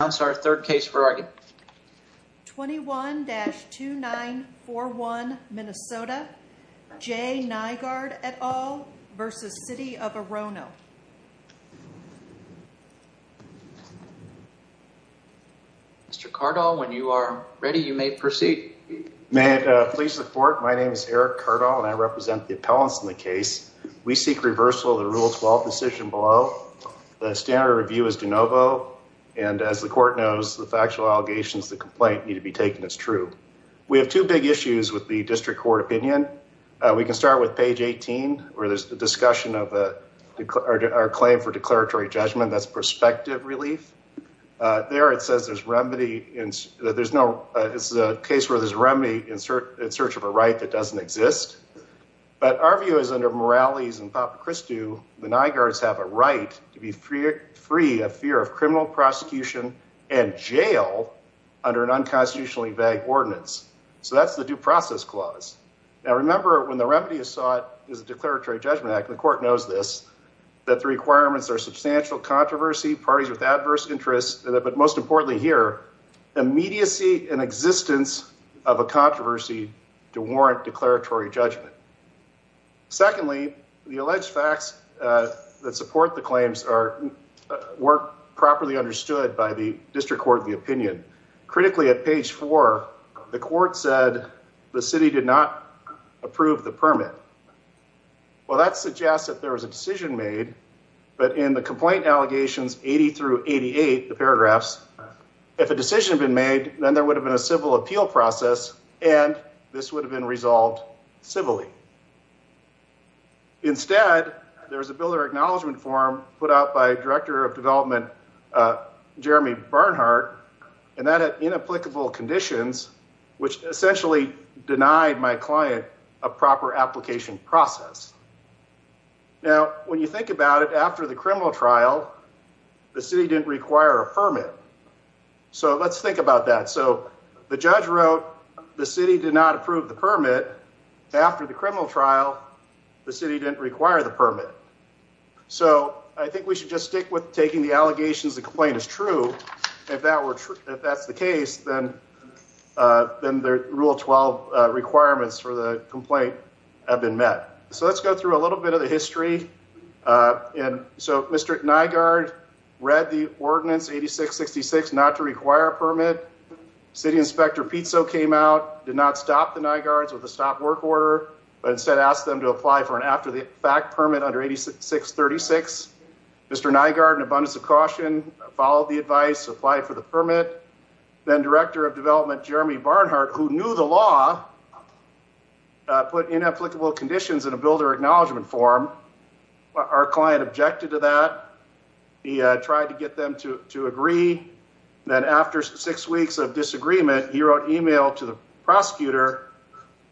Mr. Cardall, when you are ready, you may proceed. May it please the court, my name is Eric Cardall, and I represent the appellants in the case. We seek reversal of the Rule 12 decision below. The standard of review is de novo, and as the court knows, the factual allegations of the complaint need to be taken as true. We have two big issues with the district court opinion. We can start with page 18, where there's the discussion of our claim for declaratory judgment, that's perspective relief. There it says there's remedy, it's a case where there's remedy in search of a right that doesn't exist. But our view is under Morales and Papachristou, the Nygards have a right to be free of fear of criminal prosecution and jail under an unconstitutionally vague ordinance. So that's the due process clause. Now remember, when the remedy is sought is a declaratory judgment act, and the court knows this, that the requirements are substantial controversy, parties with adverse interests, but most importantly here, immediacy and existence of a controversy to warrant declaratory judgment. Secondly, the alleged facts that support the claims weren't properly understood by the district court of the opinion. Critically, at page four, the court said the city did not approve the permit. Well, that suggests that there was a decision made, but in the complaint allegations 80 through 88, the paragraphs, if a decision had been made, then there would have been a civil appeal process, and this would have been resolved civilly. Instead, there was a builder acknowledgement form put out by director of development, Jeremy Barnhart, and that had inapplicable conditions, which essentially denied my client a proper application process. Now, when you think about it, after the criminal trial, the city didn't require a permit. So let's think about that. So the judge wrote the city did not approve the permit after the criminal trial, the city didn't require the permit. So I think we should just stick with taking the allegations the complaint is true. If that were true, if that's the case, then then the rule 12 requirements for the complaint have been met. So let's go through a little bit of the history. And so Mr. Nygaard read the ordinance 86-66 not to require a permit. City Inspector Pizzo came out, did not stop the Nygaards with a stop work order, but instead asked them to apply for an after the fact permit under 86-36. Mr. Nygaard, in abundance of caution, followed the advice, applied for the permit. Then director of development, Jeremy Barnhart, who knew the law, put inapplicable conditions in a builder acknowledgement form. Our client objected to that. He tried to get them to agree. Then after six weeks of disagreement, he wrote email to the prosecutor,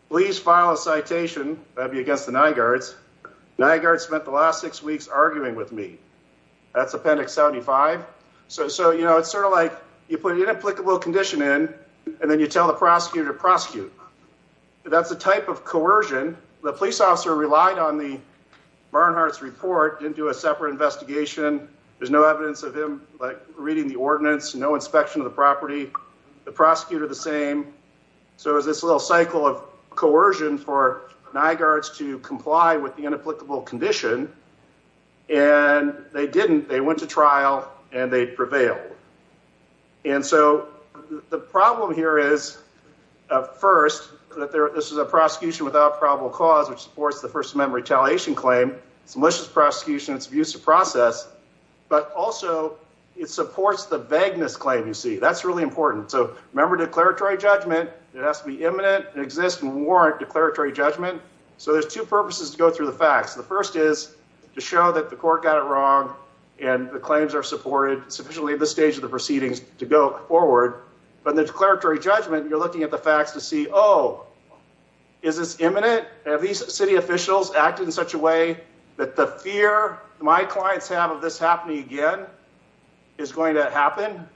please file a citation that would be against the Nygaards. Nygaard spent the last six weeks arguing with me. That's appendix 75. So, you know, it's sort of like you put an inapplicable condition in and then you tell the prosecutor to prosecute. That's the type of coercion. The police officer relied on the Barnhart's report, didn't do a separate investigation. There's no evidence of him reading the ordinance, no inspection of the property. The prosecutor, the same. So it was this little cycle of coercion for Nygaards to comply with the inapplicable condition. And they didn't. They went to trial and they prevailed. And so the problem here is, first, that this is a prosecution without probable cause, which supports the First Amendment retaliation claim. It's a malicious prosecution. It's an abusive process. But also, it supports the vagueness claim, you see. That's really important. So remember declaratory judgment. It has to be imminent and exist and warrant declaratory judgment. So there's two purposes to go through the facts. The first is to show that the court got it wrong and the claims are supported. It's officially the stage of the proceedings to go forward. But the declaratory judgment, you're looking at the facts to see, oh, is this imminent? Have these city officials acted in such a way that the fear my clients have of this happening again is going to happen?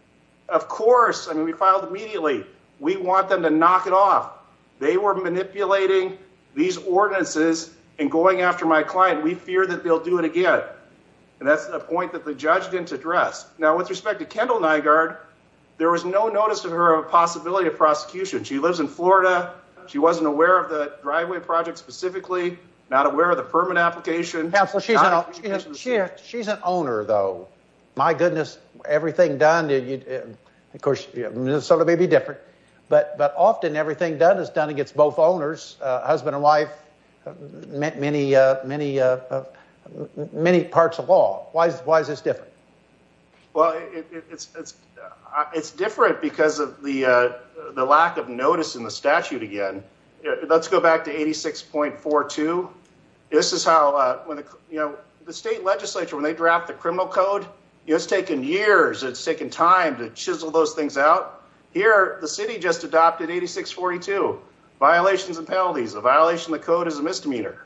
Of course. I mean, we filed immediately. We want them to knock it off. They were manipulating these ordinances and going after my client. We fear that they'll do it again. And that's a point that the judge didn't address. Now, with respect to Kendall Nygaard, there was no notice of her possibility of prosecution. She lives in Florida. She wasn't aware of the driveway project specifically. Not aware of the permit application. She's an owner, though. My goodness. Everything done. Of course, Minnesota may be different. But often, everything done is done against both owners, husband and wife, many parts of law. Why is this different? Well, it's different because of the lack of notice in the statute again. Let's go back to 86.42. This is how the state legislature, when they draft the criminal code, it's taken years. It's taken time to chisel those things out. Here, the city just adopted 86.42, violations and penalties. A violation of the code is a misdemeanor.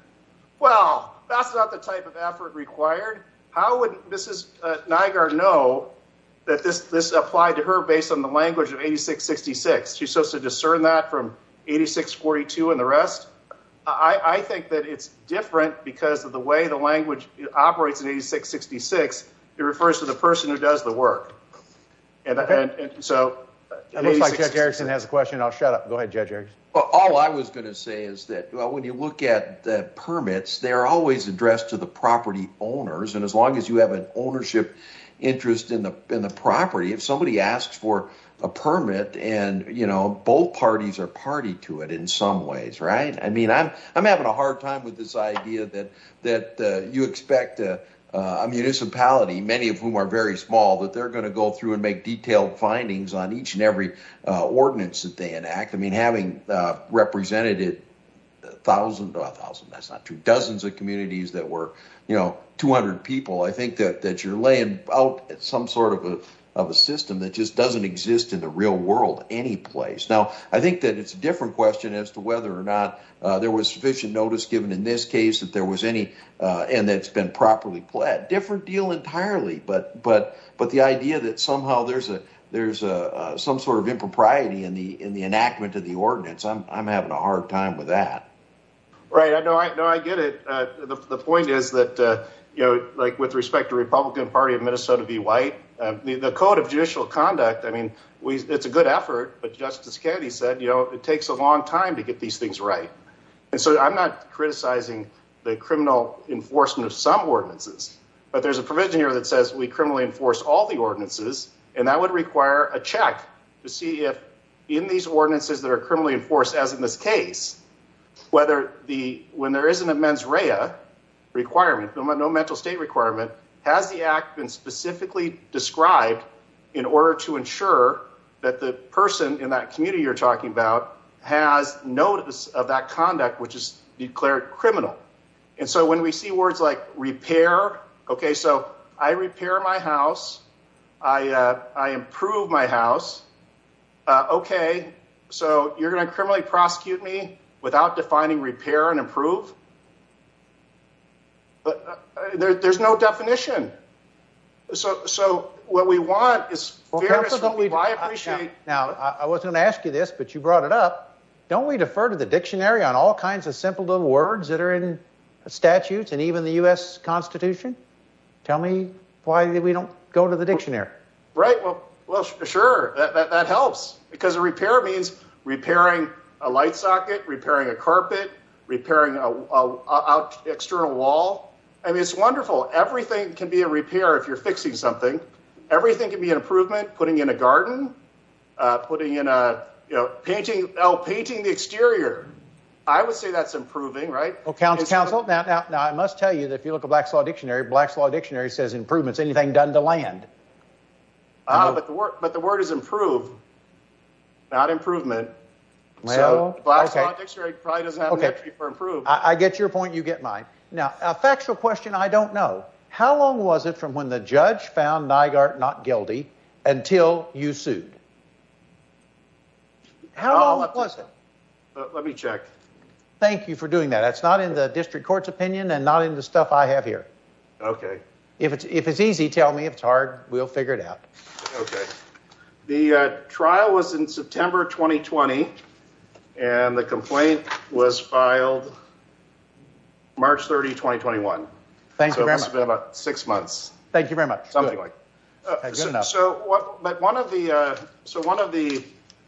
Well, that's not the type of effort required. How would Mrs. Nygaard know that this applied to her based on the language of 86.66? She's supposed to discern that from 86.42 and the rest. I think that it's different because of the way the language operates in 86.66. It refers to the person who does the work. So, it looks like Judge Erickson has a question. I'll shut up. Go ahead, Judge Erickson. Well, all I was going to say is that when you look at the permits, they're always addressed to the property owners. As long as you have an ownership interest in the property, if somebody asks for a permit, both parties are party to it in some ways. I'm having a hard time with this idea that you expect a municipality, many of whom are very small, that they're going to go through and make detailed findings on each and every ordinance that they enact. Having represented it thousands, that's not true, dozens of communities that were 200 people, I think that you're laying out some sort of a system that just doesn't exist in the real world any place. Now, I think that it's a different question as to whether or not there was sufficient notice given in this case, and that it's been properly pled. Different deal entirely, but the idea that somehow there's some sort of impropriety in the enactment of the ordinance, I'm having a hard time with that. Right. No, I get it. The point is that with respect to Republican Party of Minnesota v. White, the Code of Judicial Conduct, it's a good effort, but Justice Kennedy said it takes a long time to get these things right. I'm not criticizing the criminal enforcement of some ordinances, but there's a provision here that says we criminally enforce all the ordinances, and that would require a check to see if in these ordinances that are criminally enforced as in this case, whether when there isn't a mens rea requirement, no mental state requirement, has the act been specifically described in order to ensure that the person in that community you're talking about has notice of that conduct, which is declared criminal. And so when we see words like repair, okay, so I repair my house. I improve my house. Okay, so you're going to criminally prosecute me without defining repair and improve? There's no definition. So what we want is fairness. Now, I was going to ask you this, but you brought it up. Don't we defer to the dictionary on all kinds of simple little words that are in statutes and even the U.S. Constitution? Tell me why we don't go to the dictionary. Right, well, sure, that helps. Because a repair means repairing a light socket, repairing a carpet, repairing an external wall. I mean, it's wonderful. Everything can be a repair if you're fixing something. Everything can be an improvement, putting in a garden, putting in a, you know, painting the exterior. I would say that's improving, right? Well, counsel, now I must tell you that if you look at Black's Law Dictionary, Black's Law Dictionary says improvements, anything done to land. But the word is improve, not improvement. So Black's Law Dictionary probably doesn't have an entry for improve. I get your point. You get mine. Now, a factual question I don't know. How long was it from when the judge found Nygaard not guilty until you sued? How long was it? Let me check. Thank you for doing that. That's not in the district court's opinion and not in the stuff I have here. Okay. If it's easy, tell me. If it's hard, we'll figure it out. Okay. The trial was in September 2020, and the complaint was filed March 30, 2021. Thank you very much. So it's been about six months. Thank you very much. Something like that. So one of the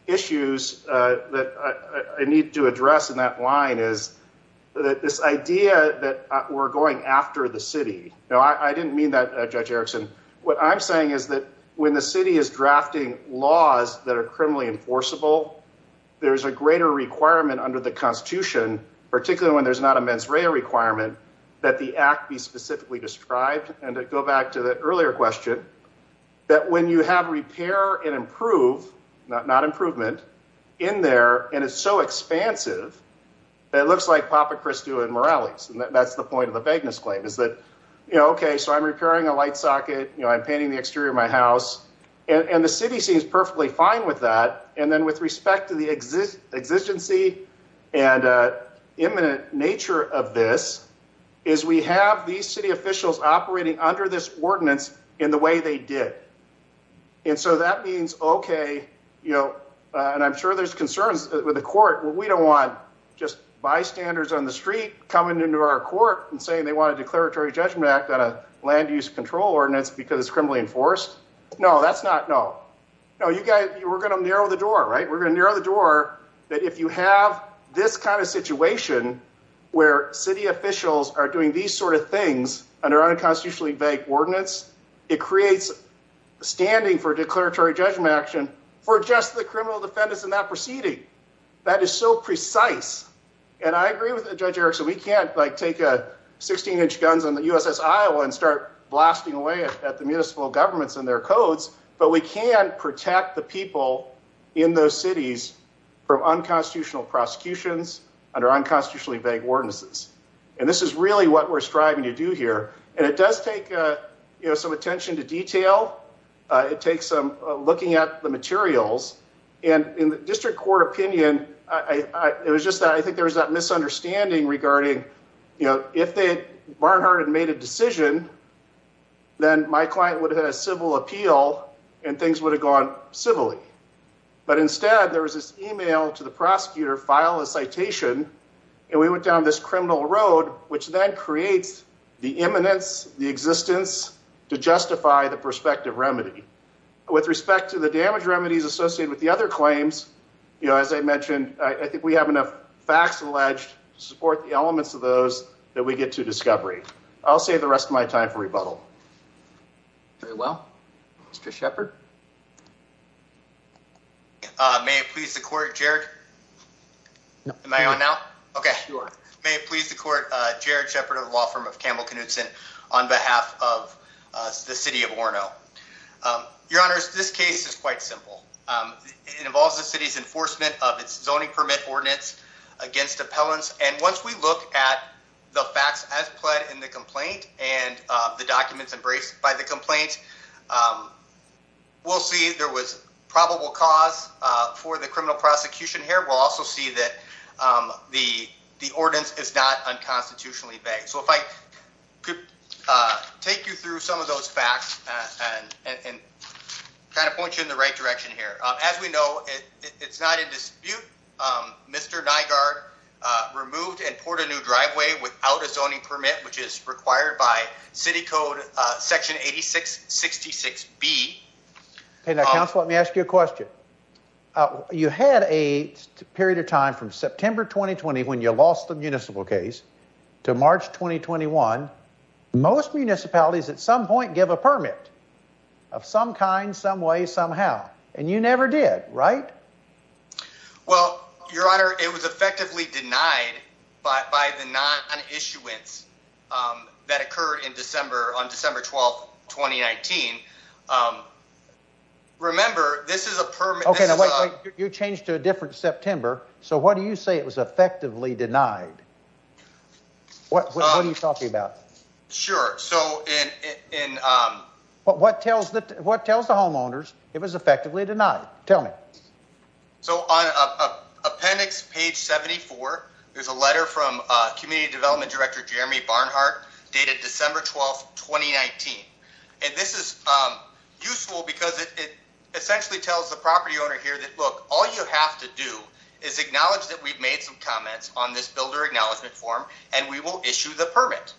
issues that I need to address in that line is this idea that we're going after the city. Now, I didn't mean that, Judge Erickson. What I'm saying is that when the city is drafting laws that are criminally enforceable, there's a greater requirement under the Constitution, particularly when there's not a mens rea requirement, that the act be specifically described. And to go back to the earlier question, that when you have repair and improve, not improvement, in there, and it's so expansive, it looks like Papa Christou and Morales. That's the point of the vagueness claim is that, okay, so I'm repairing a light socket. I'm painting the exterior of my house. And the city seems perfectly fine with that. And then with respect to the exigency and imminent nature of this is we have these city officials operating under this ordinance in the way they did. And so that means, okay, and I'm sure there's concerns with the court. We don't want just bystanders on the street coming into our court and saying they want a declaratory judgment act on a land use control ordinance because it's criminally enforced. No, that's not, no. No, you guys, we're going to narrow the door, right? We're going to narrow the door that if you have this kind of situation where city officials are doing these sort of things under unconstitutionally vague ordinance, it creates standing for declaratory judgment action for just the criminal defendants in that proceeding. That is so precise. And I agree with Judge Erickson. We can't like take a 16 inch guns on the USS Iowa and start blasting away at the municipal governments and their codes, but we can protect the people in those cities from unconstitutional prosecutions under unconstitutionally vague ordinances. And this is really what we're striving to do here. And it does take some attention to detail. It takes some looking at the materials. And in the district court opinion, it was just that I think there was that misunderstanding regarding, if they had made a decision, then my client would have had a civil appeal and things would have gone civilly. But instead there was this email to the prosecutor file a citation and we went down this criminal road, which then creates the imminence, the existence to justify the prospective remedy. With respect to the damage remedies associated with the other claims, as I mentioned, I think we have enough facts alleged to support the elements of those that we get to discovery. I'll save the rest of my time for rebuttal. Very well, Mr. Shepard. May it please the court, Jared? Am I on now? Okay, may it please the court, Jared Shepard of the law firm of Campbell Knudson on behalf of the city of Orono. Your honors, this case is quite simple. It involves the city's enforcement of its zoning permit ordinance against appellants. And once we look at the facts as pled in the complaint and the documents embraced by the complaint, we'll see there was probable cause for the criminal prosecution here. We'll also see that the ordinance is not unconstitutionally begged. So if I could take you through some of those facts and kind of point you in the right direction here. As we know, it's not in dispute. Mr. Nygaard removed and poured a new driveway without a zoning permit, which is required by city code section 8666B. Okay, now, counsel, let me ask you a question. You had a period of time from September 2020 when you lost the municipal case to March 2021. Most municipalities at some point give a permit of some kind, some way, somehow. And you never did, right? Well, your honor, it was effectively denied by the non-issuance that occurred on December 12, 2019. Remember, this is a permit. Okay, now, wait, wait. You changed to a different September. So what do you say it was effectively denied? What are you talking about? Sure, so in... What tells the homeowners it was effectively denied? Tell me. So on appendix page 74, there's a letter from Community Development Director Jeremy Barnhart dated December 12, 2019. And this is useful because it essentially tells the property owner here that, look, all you have to do is acknowledge that we've made some comments on this builder acknowledgement form and we will issue the permit.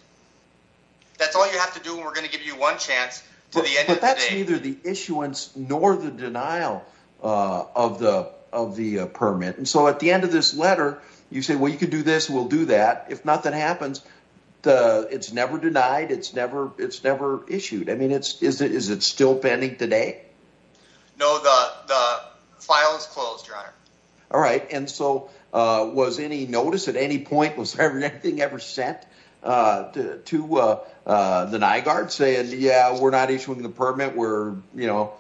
That's all you have to do, and we're going to give you one chance to the end of the day. Neither the issuance nor the denial of the permit. And so at the end of this letter, you say, well, you can do this, we'll do that. If nothing happens, it's never denied. It's never issued. I mean, is it still pending today? No, the file is closed, your honor. All right, and so was any notice at any point, was there anything ever sent to the NIGARD saying, yeah, we're not issuing the permit. We're, you know.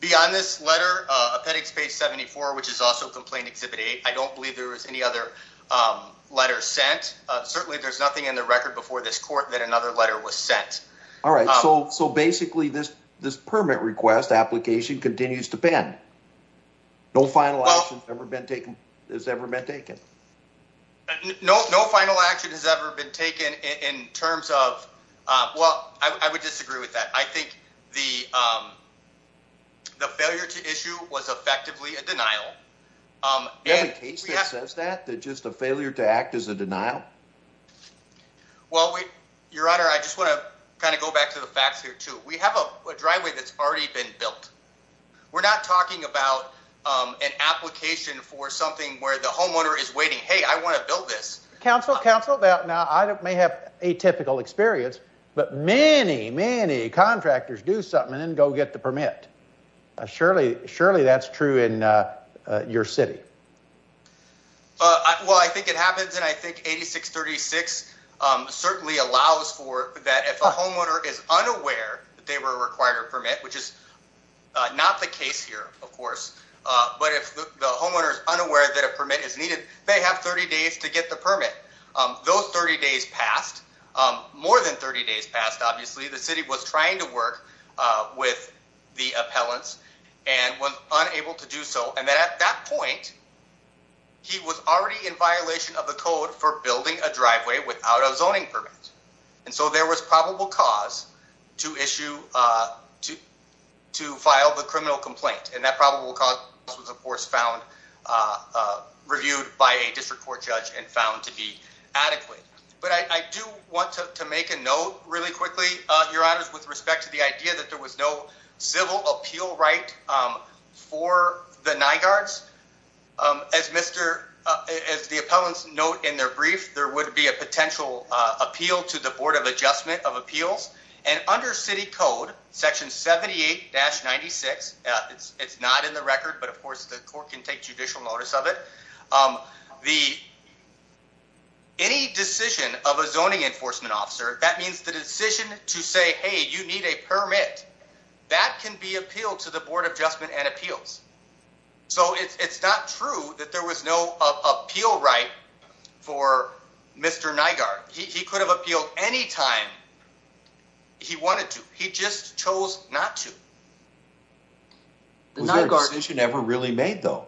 Beyond this letter, Appendix Page 74, which is also Complaint Exhibit 8, I don't believe there was any other letter sent. Certainly there's nothing in the record before this court that another letter was sent. All right, so basically this permit request application continues to pen. No final action has ever been taken. No final action has ever been taken in terms of, well, I would disagree with that. I think the failure to issue was effectively a denial. Every case that says that, that just a failure to act is a denial? Well, your honor, I just want to kind of go back to the facts here too. We have a driveway that's already been built. We're not talking about an application for something where the homeowner is waiting, hey, I want to build this. Counsel, counsel, now I may have atypical experience, but many, many contractors do something and go get the permit. Surely that's true in your city. Well, I think it happens and I think 8636 certainly allows for that if a homeowner is unaware that they were required a permit, which is not the case here, of course, but if the homeowner is unaware that a permit is needed, they have 30 days to get the permit. Those 30 days passed. More than 30 days passed. Obviously, the city was trying to work with the appellants and was unable to do so. And then at that point, he was already in violation of the code for building a driveway without a zoning permit. And so there was probable cause to issue, to file the criminal complaint. That probable cause was, of course, found, reviewed by a district court judge and found to be adequate. But I do want to make a note really quickly, your honors, with respect to the idea that there was no civil appeal right for the NIGARDS. As the appellants note in their brief, there would be a potential appeal to the Board of Adjustment of Appeals. And under city code, section 78-96, it's not in the record, but of course, the court can take judicial notice of it. Any decision of a zoning enforcement officer, that means the decision to say, hey, you need a permit, that can be appealed to the Board of Adjustment and Appeals. So it's not true that there was no appeal right for Mr. NIGARD. He could have appealed any time he wanted to. He just chose not to. Was there a decision ever really made, though?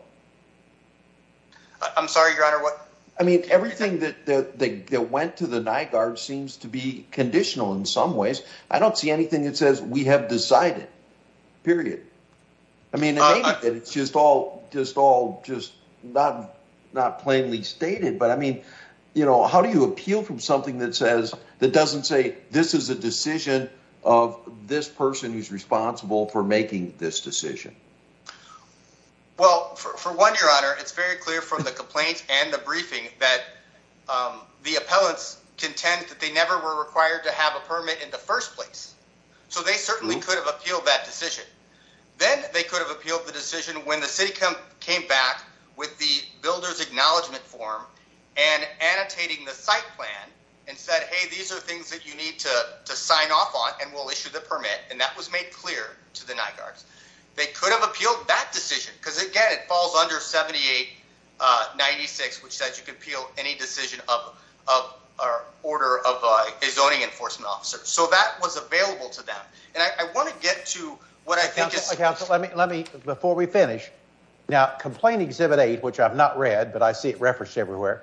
I'm sorry, your honor, what? I mean, everything that went to the NIGARD seems to be conditional in some ways. I don't see anything that says we have decided, period. I mean, maybe it's just all just not plainly stated. But I mean, how do you appeal from something that says, that doesn't say this is a decision of this person who's responsible for making this decision? Well, for one, your honor, it's very clear from the complaints and the briefing that the appellants contend that they never were required to have a permit in the first place. So they certainly could have appealed that decision. Then they could have appealed the decision when the city came back with the builder's acknowledgment form and annotating the site plan and said, hey, these are things that you need to sign off on and we'll issue the permit. And that was made clear to the NIGARDS. They could have appealed that decision because again, it falls under 7896, which says you can appeal any decision of a zoning enforcement officer. So that was available to them. And I want to get to what I think is- Before we finish, now complaint exhibit eight, which I've not read, but I see it referenced everywhere.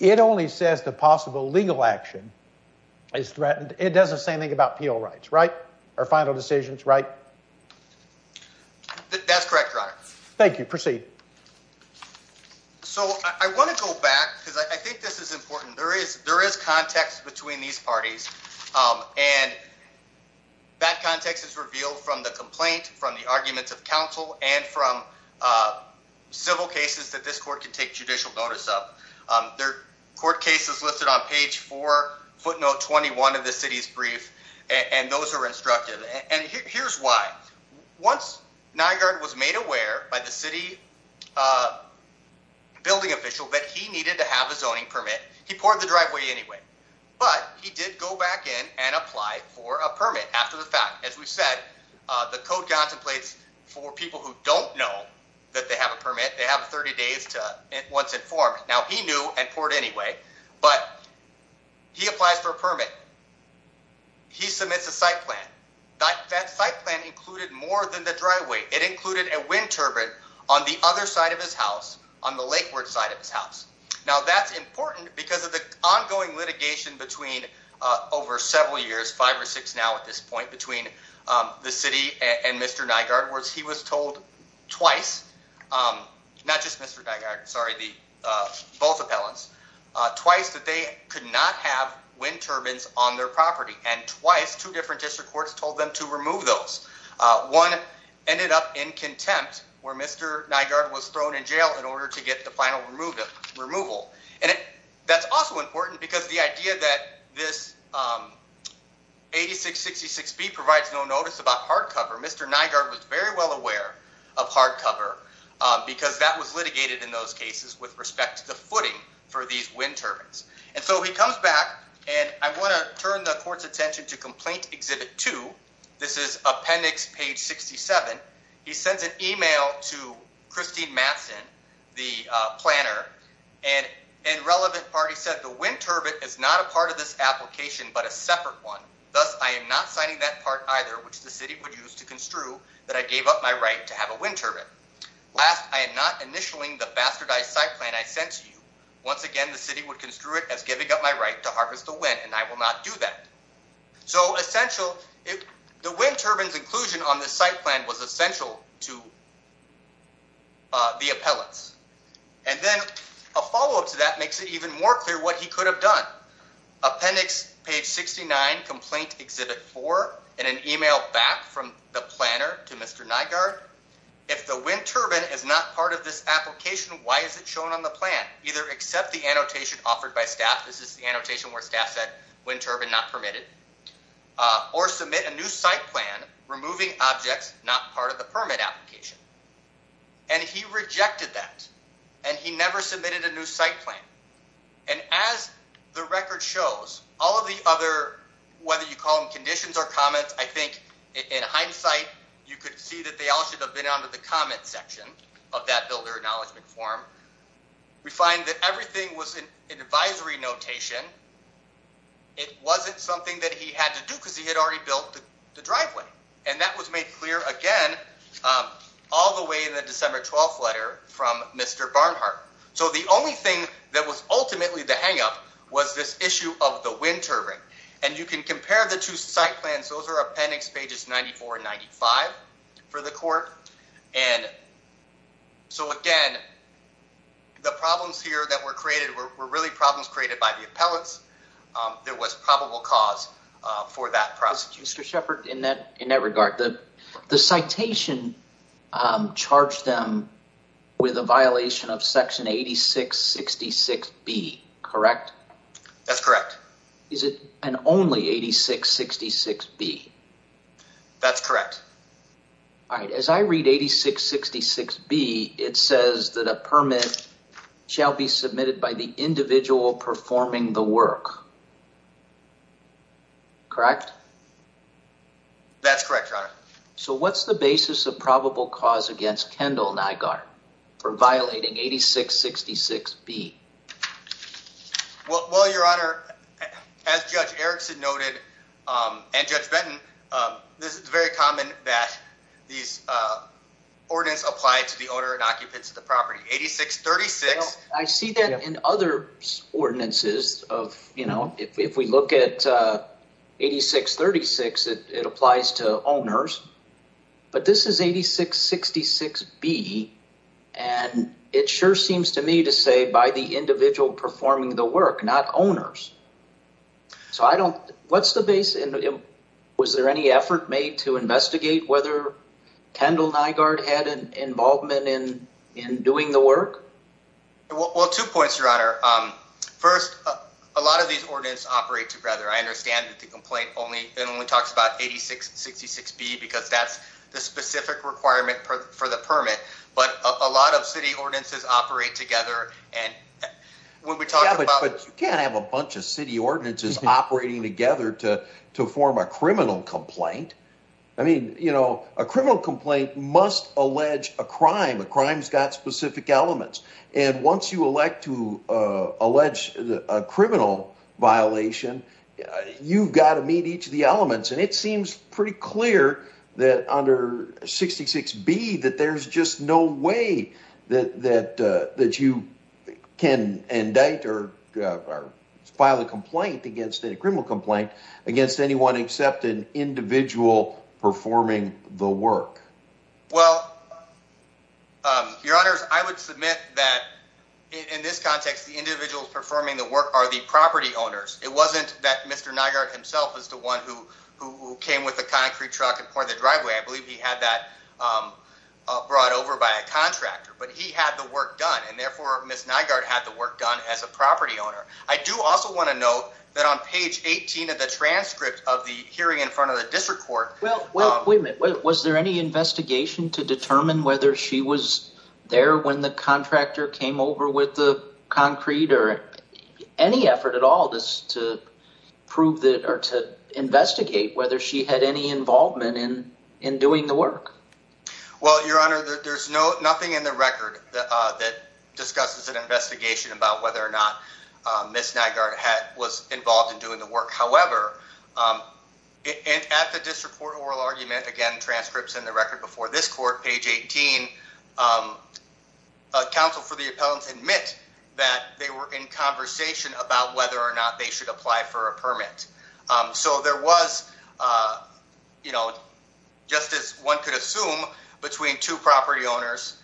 It only says the possible legal action is threatened. It does the same thing about appeal rights, right? Our final decisions, right? That's correct, your honor. Thank you. Proceed. So I want to go back because I think this is important. There is context between these parties and that context is revealed from the complaint, from the arguments of counsel, and from civil cases that this court can take judicial notice of. There are court cases listed on page four, footnote 21 of the city's brief, and those are instructed. And here's why. Once NIGARD was made aware by the city building official that he needed to have a zoning permit, he poured the driveway anyway, but he did go back in and apply for a permit after the fact. As we've said, the code contemplates for people who don't know that they have a permit, they have 30 days to once informed. Now he knew and poured anyway, but he applies for a permit. He submits a site plan. That site plan included more than the driveway. It included a wind turbine on the other side of his house, on the lakeward side of his house. Now that's important because of the ongoing litigation between over several years, five or six now at this point, between the city and Mr. NIGARD, where he was told twice, not just Mr. NIGARD, sorry, both appellants, twice that they could not have wind turbines on their property. And twice, two different district courts told them to remove those. One ended up in contempt where Mr. NIGARD was thrown in jail in order to get the final removal. And that's also important because the idea that this 8666B provides no notice about hardcover, Mr. NIGARD was very well aware of hardcover because that was litigated in those cases with respect to the footing for these wind turbines. And so he comes back and I want to turn the court's attention to complaint exhibit two. This is appendix page 67. He sends an email to Christine Matson, the planner, and relevant party said, the wind turbine is not a part of this application, but a separate one. Thus, I am not signing that part either, which the city would use to construe that I gave up my right to have a wind turbine. Last, I am not initialing the bastardized site plan I sent to you. Once again, the city would construe it as giving up my right to harvest the wind, and I will not do that. So essential, the wind turbines inclusion on this site plan was essential to the appellants. And then a follow-up to that makes it even more clear what he could have done. Appendix page 69, complaint exhibit four, and an email back from the planner to Mr. NIGARD. If the wind turbine is not part of this application, why is it shown on the plan? Either accept the annotation offered by staff, this is the annotation where staff said, wind turbine not permitted, or submit a new site plan, removing objects not part of the permit application. And he rejected that, and he never submitted a new site plan. And as the record shows, all of the other, whether you call them conditions or comments, I think in hindsight, you could see that they all should have been under the comment section of that builder acknowledgement form. We find that everything was an advisory notation. It wasn't something that he had to do because he had already built the driveway. And that was made clear again, all the way in the December 12th letter from Mr. Barnhart. So the only thing that was ultimately the hangup was this issue of the wind turbine. And you can compare the two site plans. Those are appendix pages 94 and 95 for the court. And so again, the problems here that were created were really problems created by the appellants. There was probable cause for that process. Mr. Shepard, in that regard, the citation charged them with a violation of section 8666B, correct? That's correct. Is it an only 8666B? That's correct. All right. As I read 8666B, it says that a permit shall be submitted by the individual performing the work. Correct? That's correct, Your Honor. So what's the basis of probable cause against Kendall Nygaard for violating 8666B? Well, Your Honor, as Judge Erickson noted, and Judge Benton, this is very common that these ordinance applied to the owner and occupants of the property. 8636. I see that in other ordinances of, you know, if we look at 8636, it applies to owners. But this is 8666B. And it sure seems to me to say by the individual performing the work, not owners. So I don't, what's the base? Was there any effort made to investigate whether Kendall Nygaard had an involvement in doing the work? Well, two points, Your Honor. First, a lot of these ordinance operate together. I understand that the complaint only, it only talks about 8666B because that's the specific requirement for the permit. But a lot of city ordinances operate together. And when we talk about- Yeah, but you can't have a bunch of city ordinances operating together to form a criminal complaint. I mean, you know, a criminal complaint must allege a crime. A crime's got specific elements. And once you elect to allege a criminal violation, you've got to meet each of the elements. And it seems pretty clear that under 8666B that there's just no way that you can indict or file a complaint against a criminal complaint against anyone except an individual performing the work. Well, Your Honors, I would submit that in this context, the individuals performing the work are the property owners. It wasn't that Mr. Nygaard himself was the one who came with the concrete truck and poured the driveway. I believe he had that brought over by a contractor, but he had the work done. And therefore, Ms. Nygaard had the work done as a property owner. I do also want to note that on page 18 of the transcript of the hearing in front of the district court- to determine whether she was there when the contractor came over with the concrete or any effort at all just to prove that or to investigate whether she had any involvement in doing the work. Well, Your Honor, there's nothing in the record that discusses an investigation about whether or not Ms. Nygaard was involved in doing the work. However, at the district court oral argument, again, transcripts in the record before this court, page 18, a counsel for the appellants admit that they were in conversation about whether or not they should apply for a permit. So there was, you know, just as one could assume between two property owners,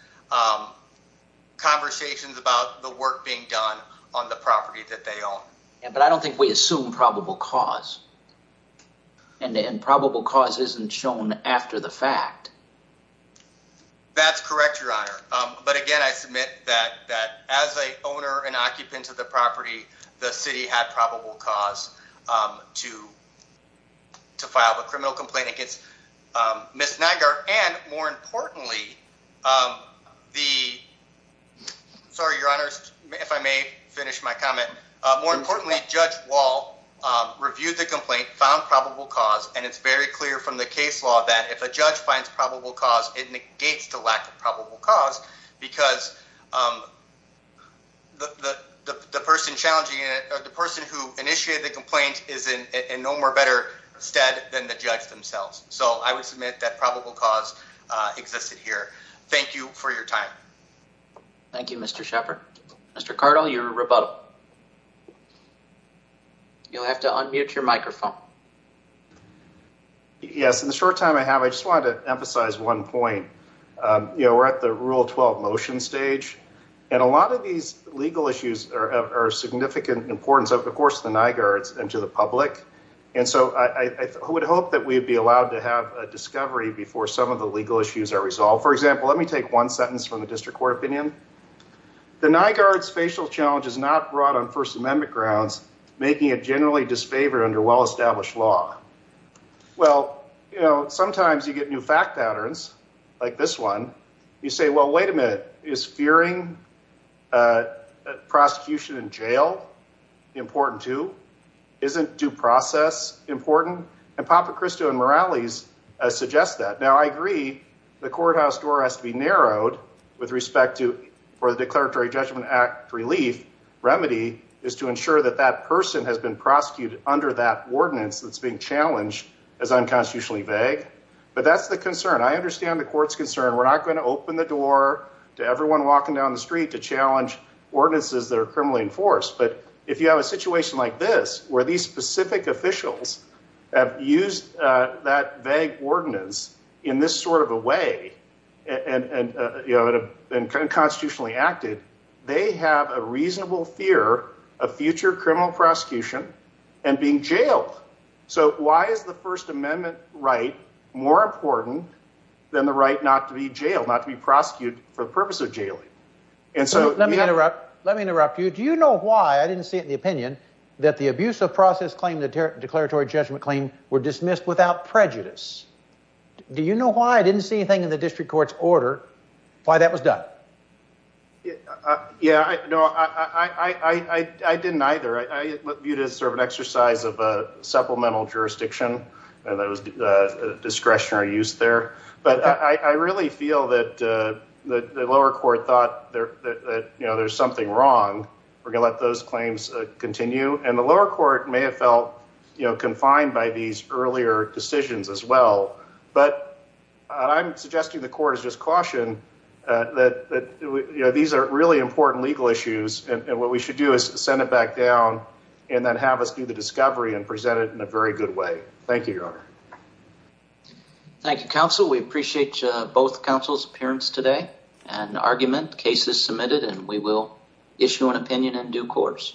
conversations about the work being done on the property that they own. But I don't think we assume probable cause. And probable cause isn't shown after the fact. That's correct, Your Honor. But again, I submit that as a owner and occupant of the property, the city had probable cause to file a criminal complaint against Ms. Nygaard. And more importantly, the- sorry, Your Honor, if I may finish my comment. More importantly, Judge Wall reviewed the complaint, found probable cause, and it's very clear from the case law that if a judge finds probable cause, it negates the lack of probable cause because the person challenging it, the person who initiated the complaint is in no more better stead than the judge themselves. So I would submit that probable cause existed here. Thank you for your time. Thank you, Mr. Sheppard. Mr. Cardle, your rebuttal. You'll have to unmute your microphone. Yes, in the short time I have, I just wanted to emphasize one point. We're at the Rule 12 motion stage. And a lot of these legal issues are of significant importance, of course, to the Nygaards and to the public. And so I would hope that we'd be allowed to have a discovery before some of the legal issues are resolved. For example, let me take one sentence from the district court opinion. The Nygaard's facial challenge is not brought on First Amendment grounds, making it generally disfavored under well-established law. Well, sometimes you get new fact patterns like this one. You say, well, wait a minute, is fearing prosecution in jail important too? Isn't due process important? And Papa Cristo and Morales suggest that. Now, I agree the courthouse door has to be narrowed with respect to, for the Declaratory Judgment Act relief, remedy is to ensure that that person has been prosecuted under that ordinance that's being challenged as unconstitutionally vague. But that's the concern. I understand the court's concern. We're not going to open the door to everyone walking down the street to challenge ordinances that are criminally enforced. But if you have a situation like this, where these specific officials have used that vague ordinance in this sort of a way and have been constitutionally acted, they have a reasonable fear of future criminal prosecution and being jailed. So why is the First Amendment right more important than the right not to be jailed, not to be prosecuted for the purpose of jailing? And so- Let me interrupt. Let me interrupt you. Do you know why, I didn't see it in the opinion, that the abuse of process claim in the Declaratory Judgment Claim were dismissed without prejudice? Do you know why I didn't see anything in the district court's order why that was done? Yeah, no, I didn't either. I viewed it as sort of an exercise of a supplemental jurisdiction and that was discretionary use there. But I really feel that the lower court thought that there's something wrong. We're going to let those claims continue. And the lower court may have felt confined by these earlier decisions as well. But I'm suggesting the court has just cautioned that these are really important legal issues. And what we should do is send it back down and then have us do the discovery and present it in a very good way. Thank you, Your Honor. Thank you, counsel. We appreciate both counsel's appearance today and argument cases submitted and we will issue an opinion in due course.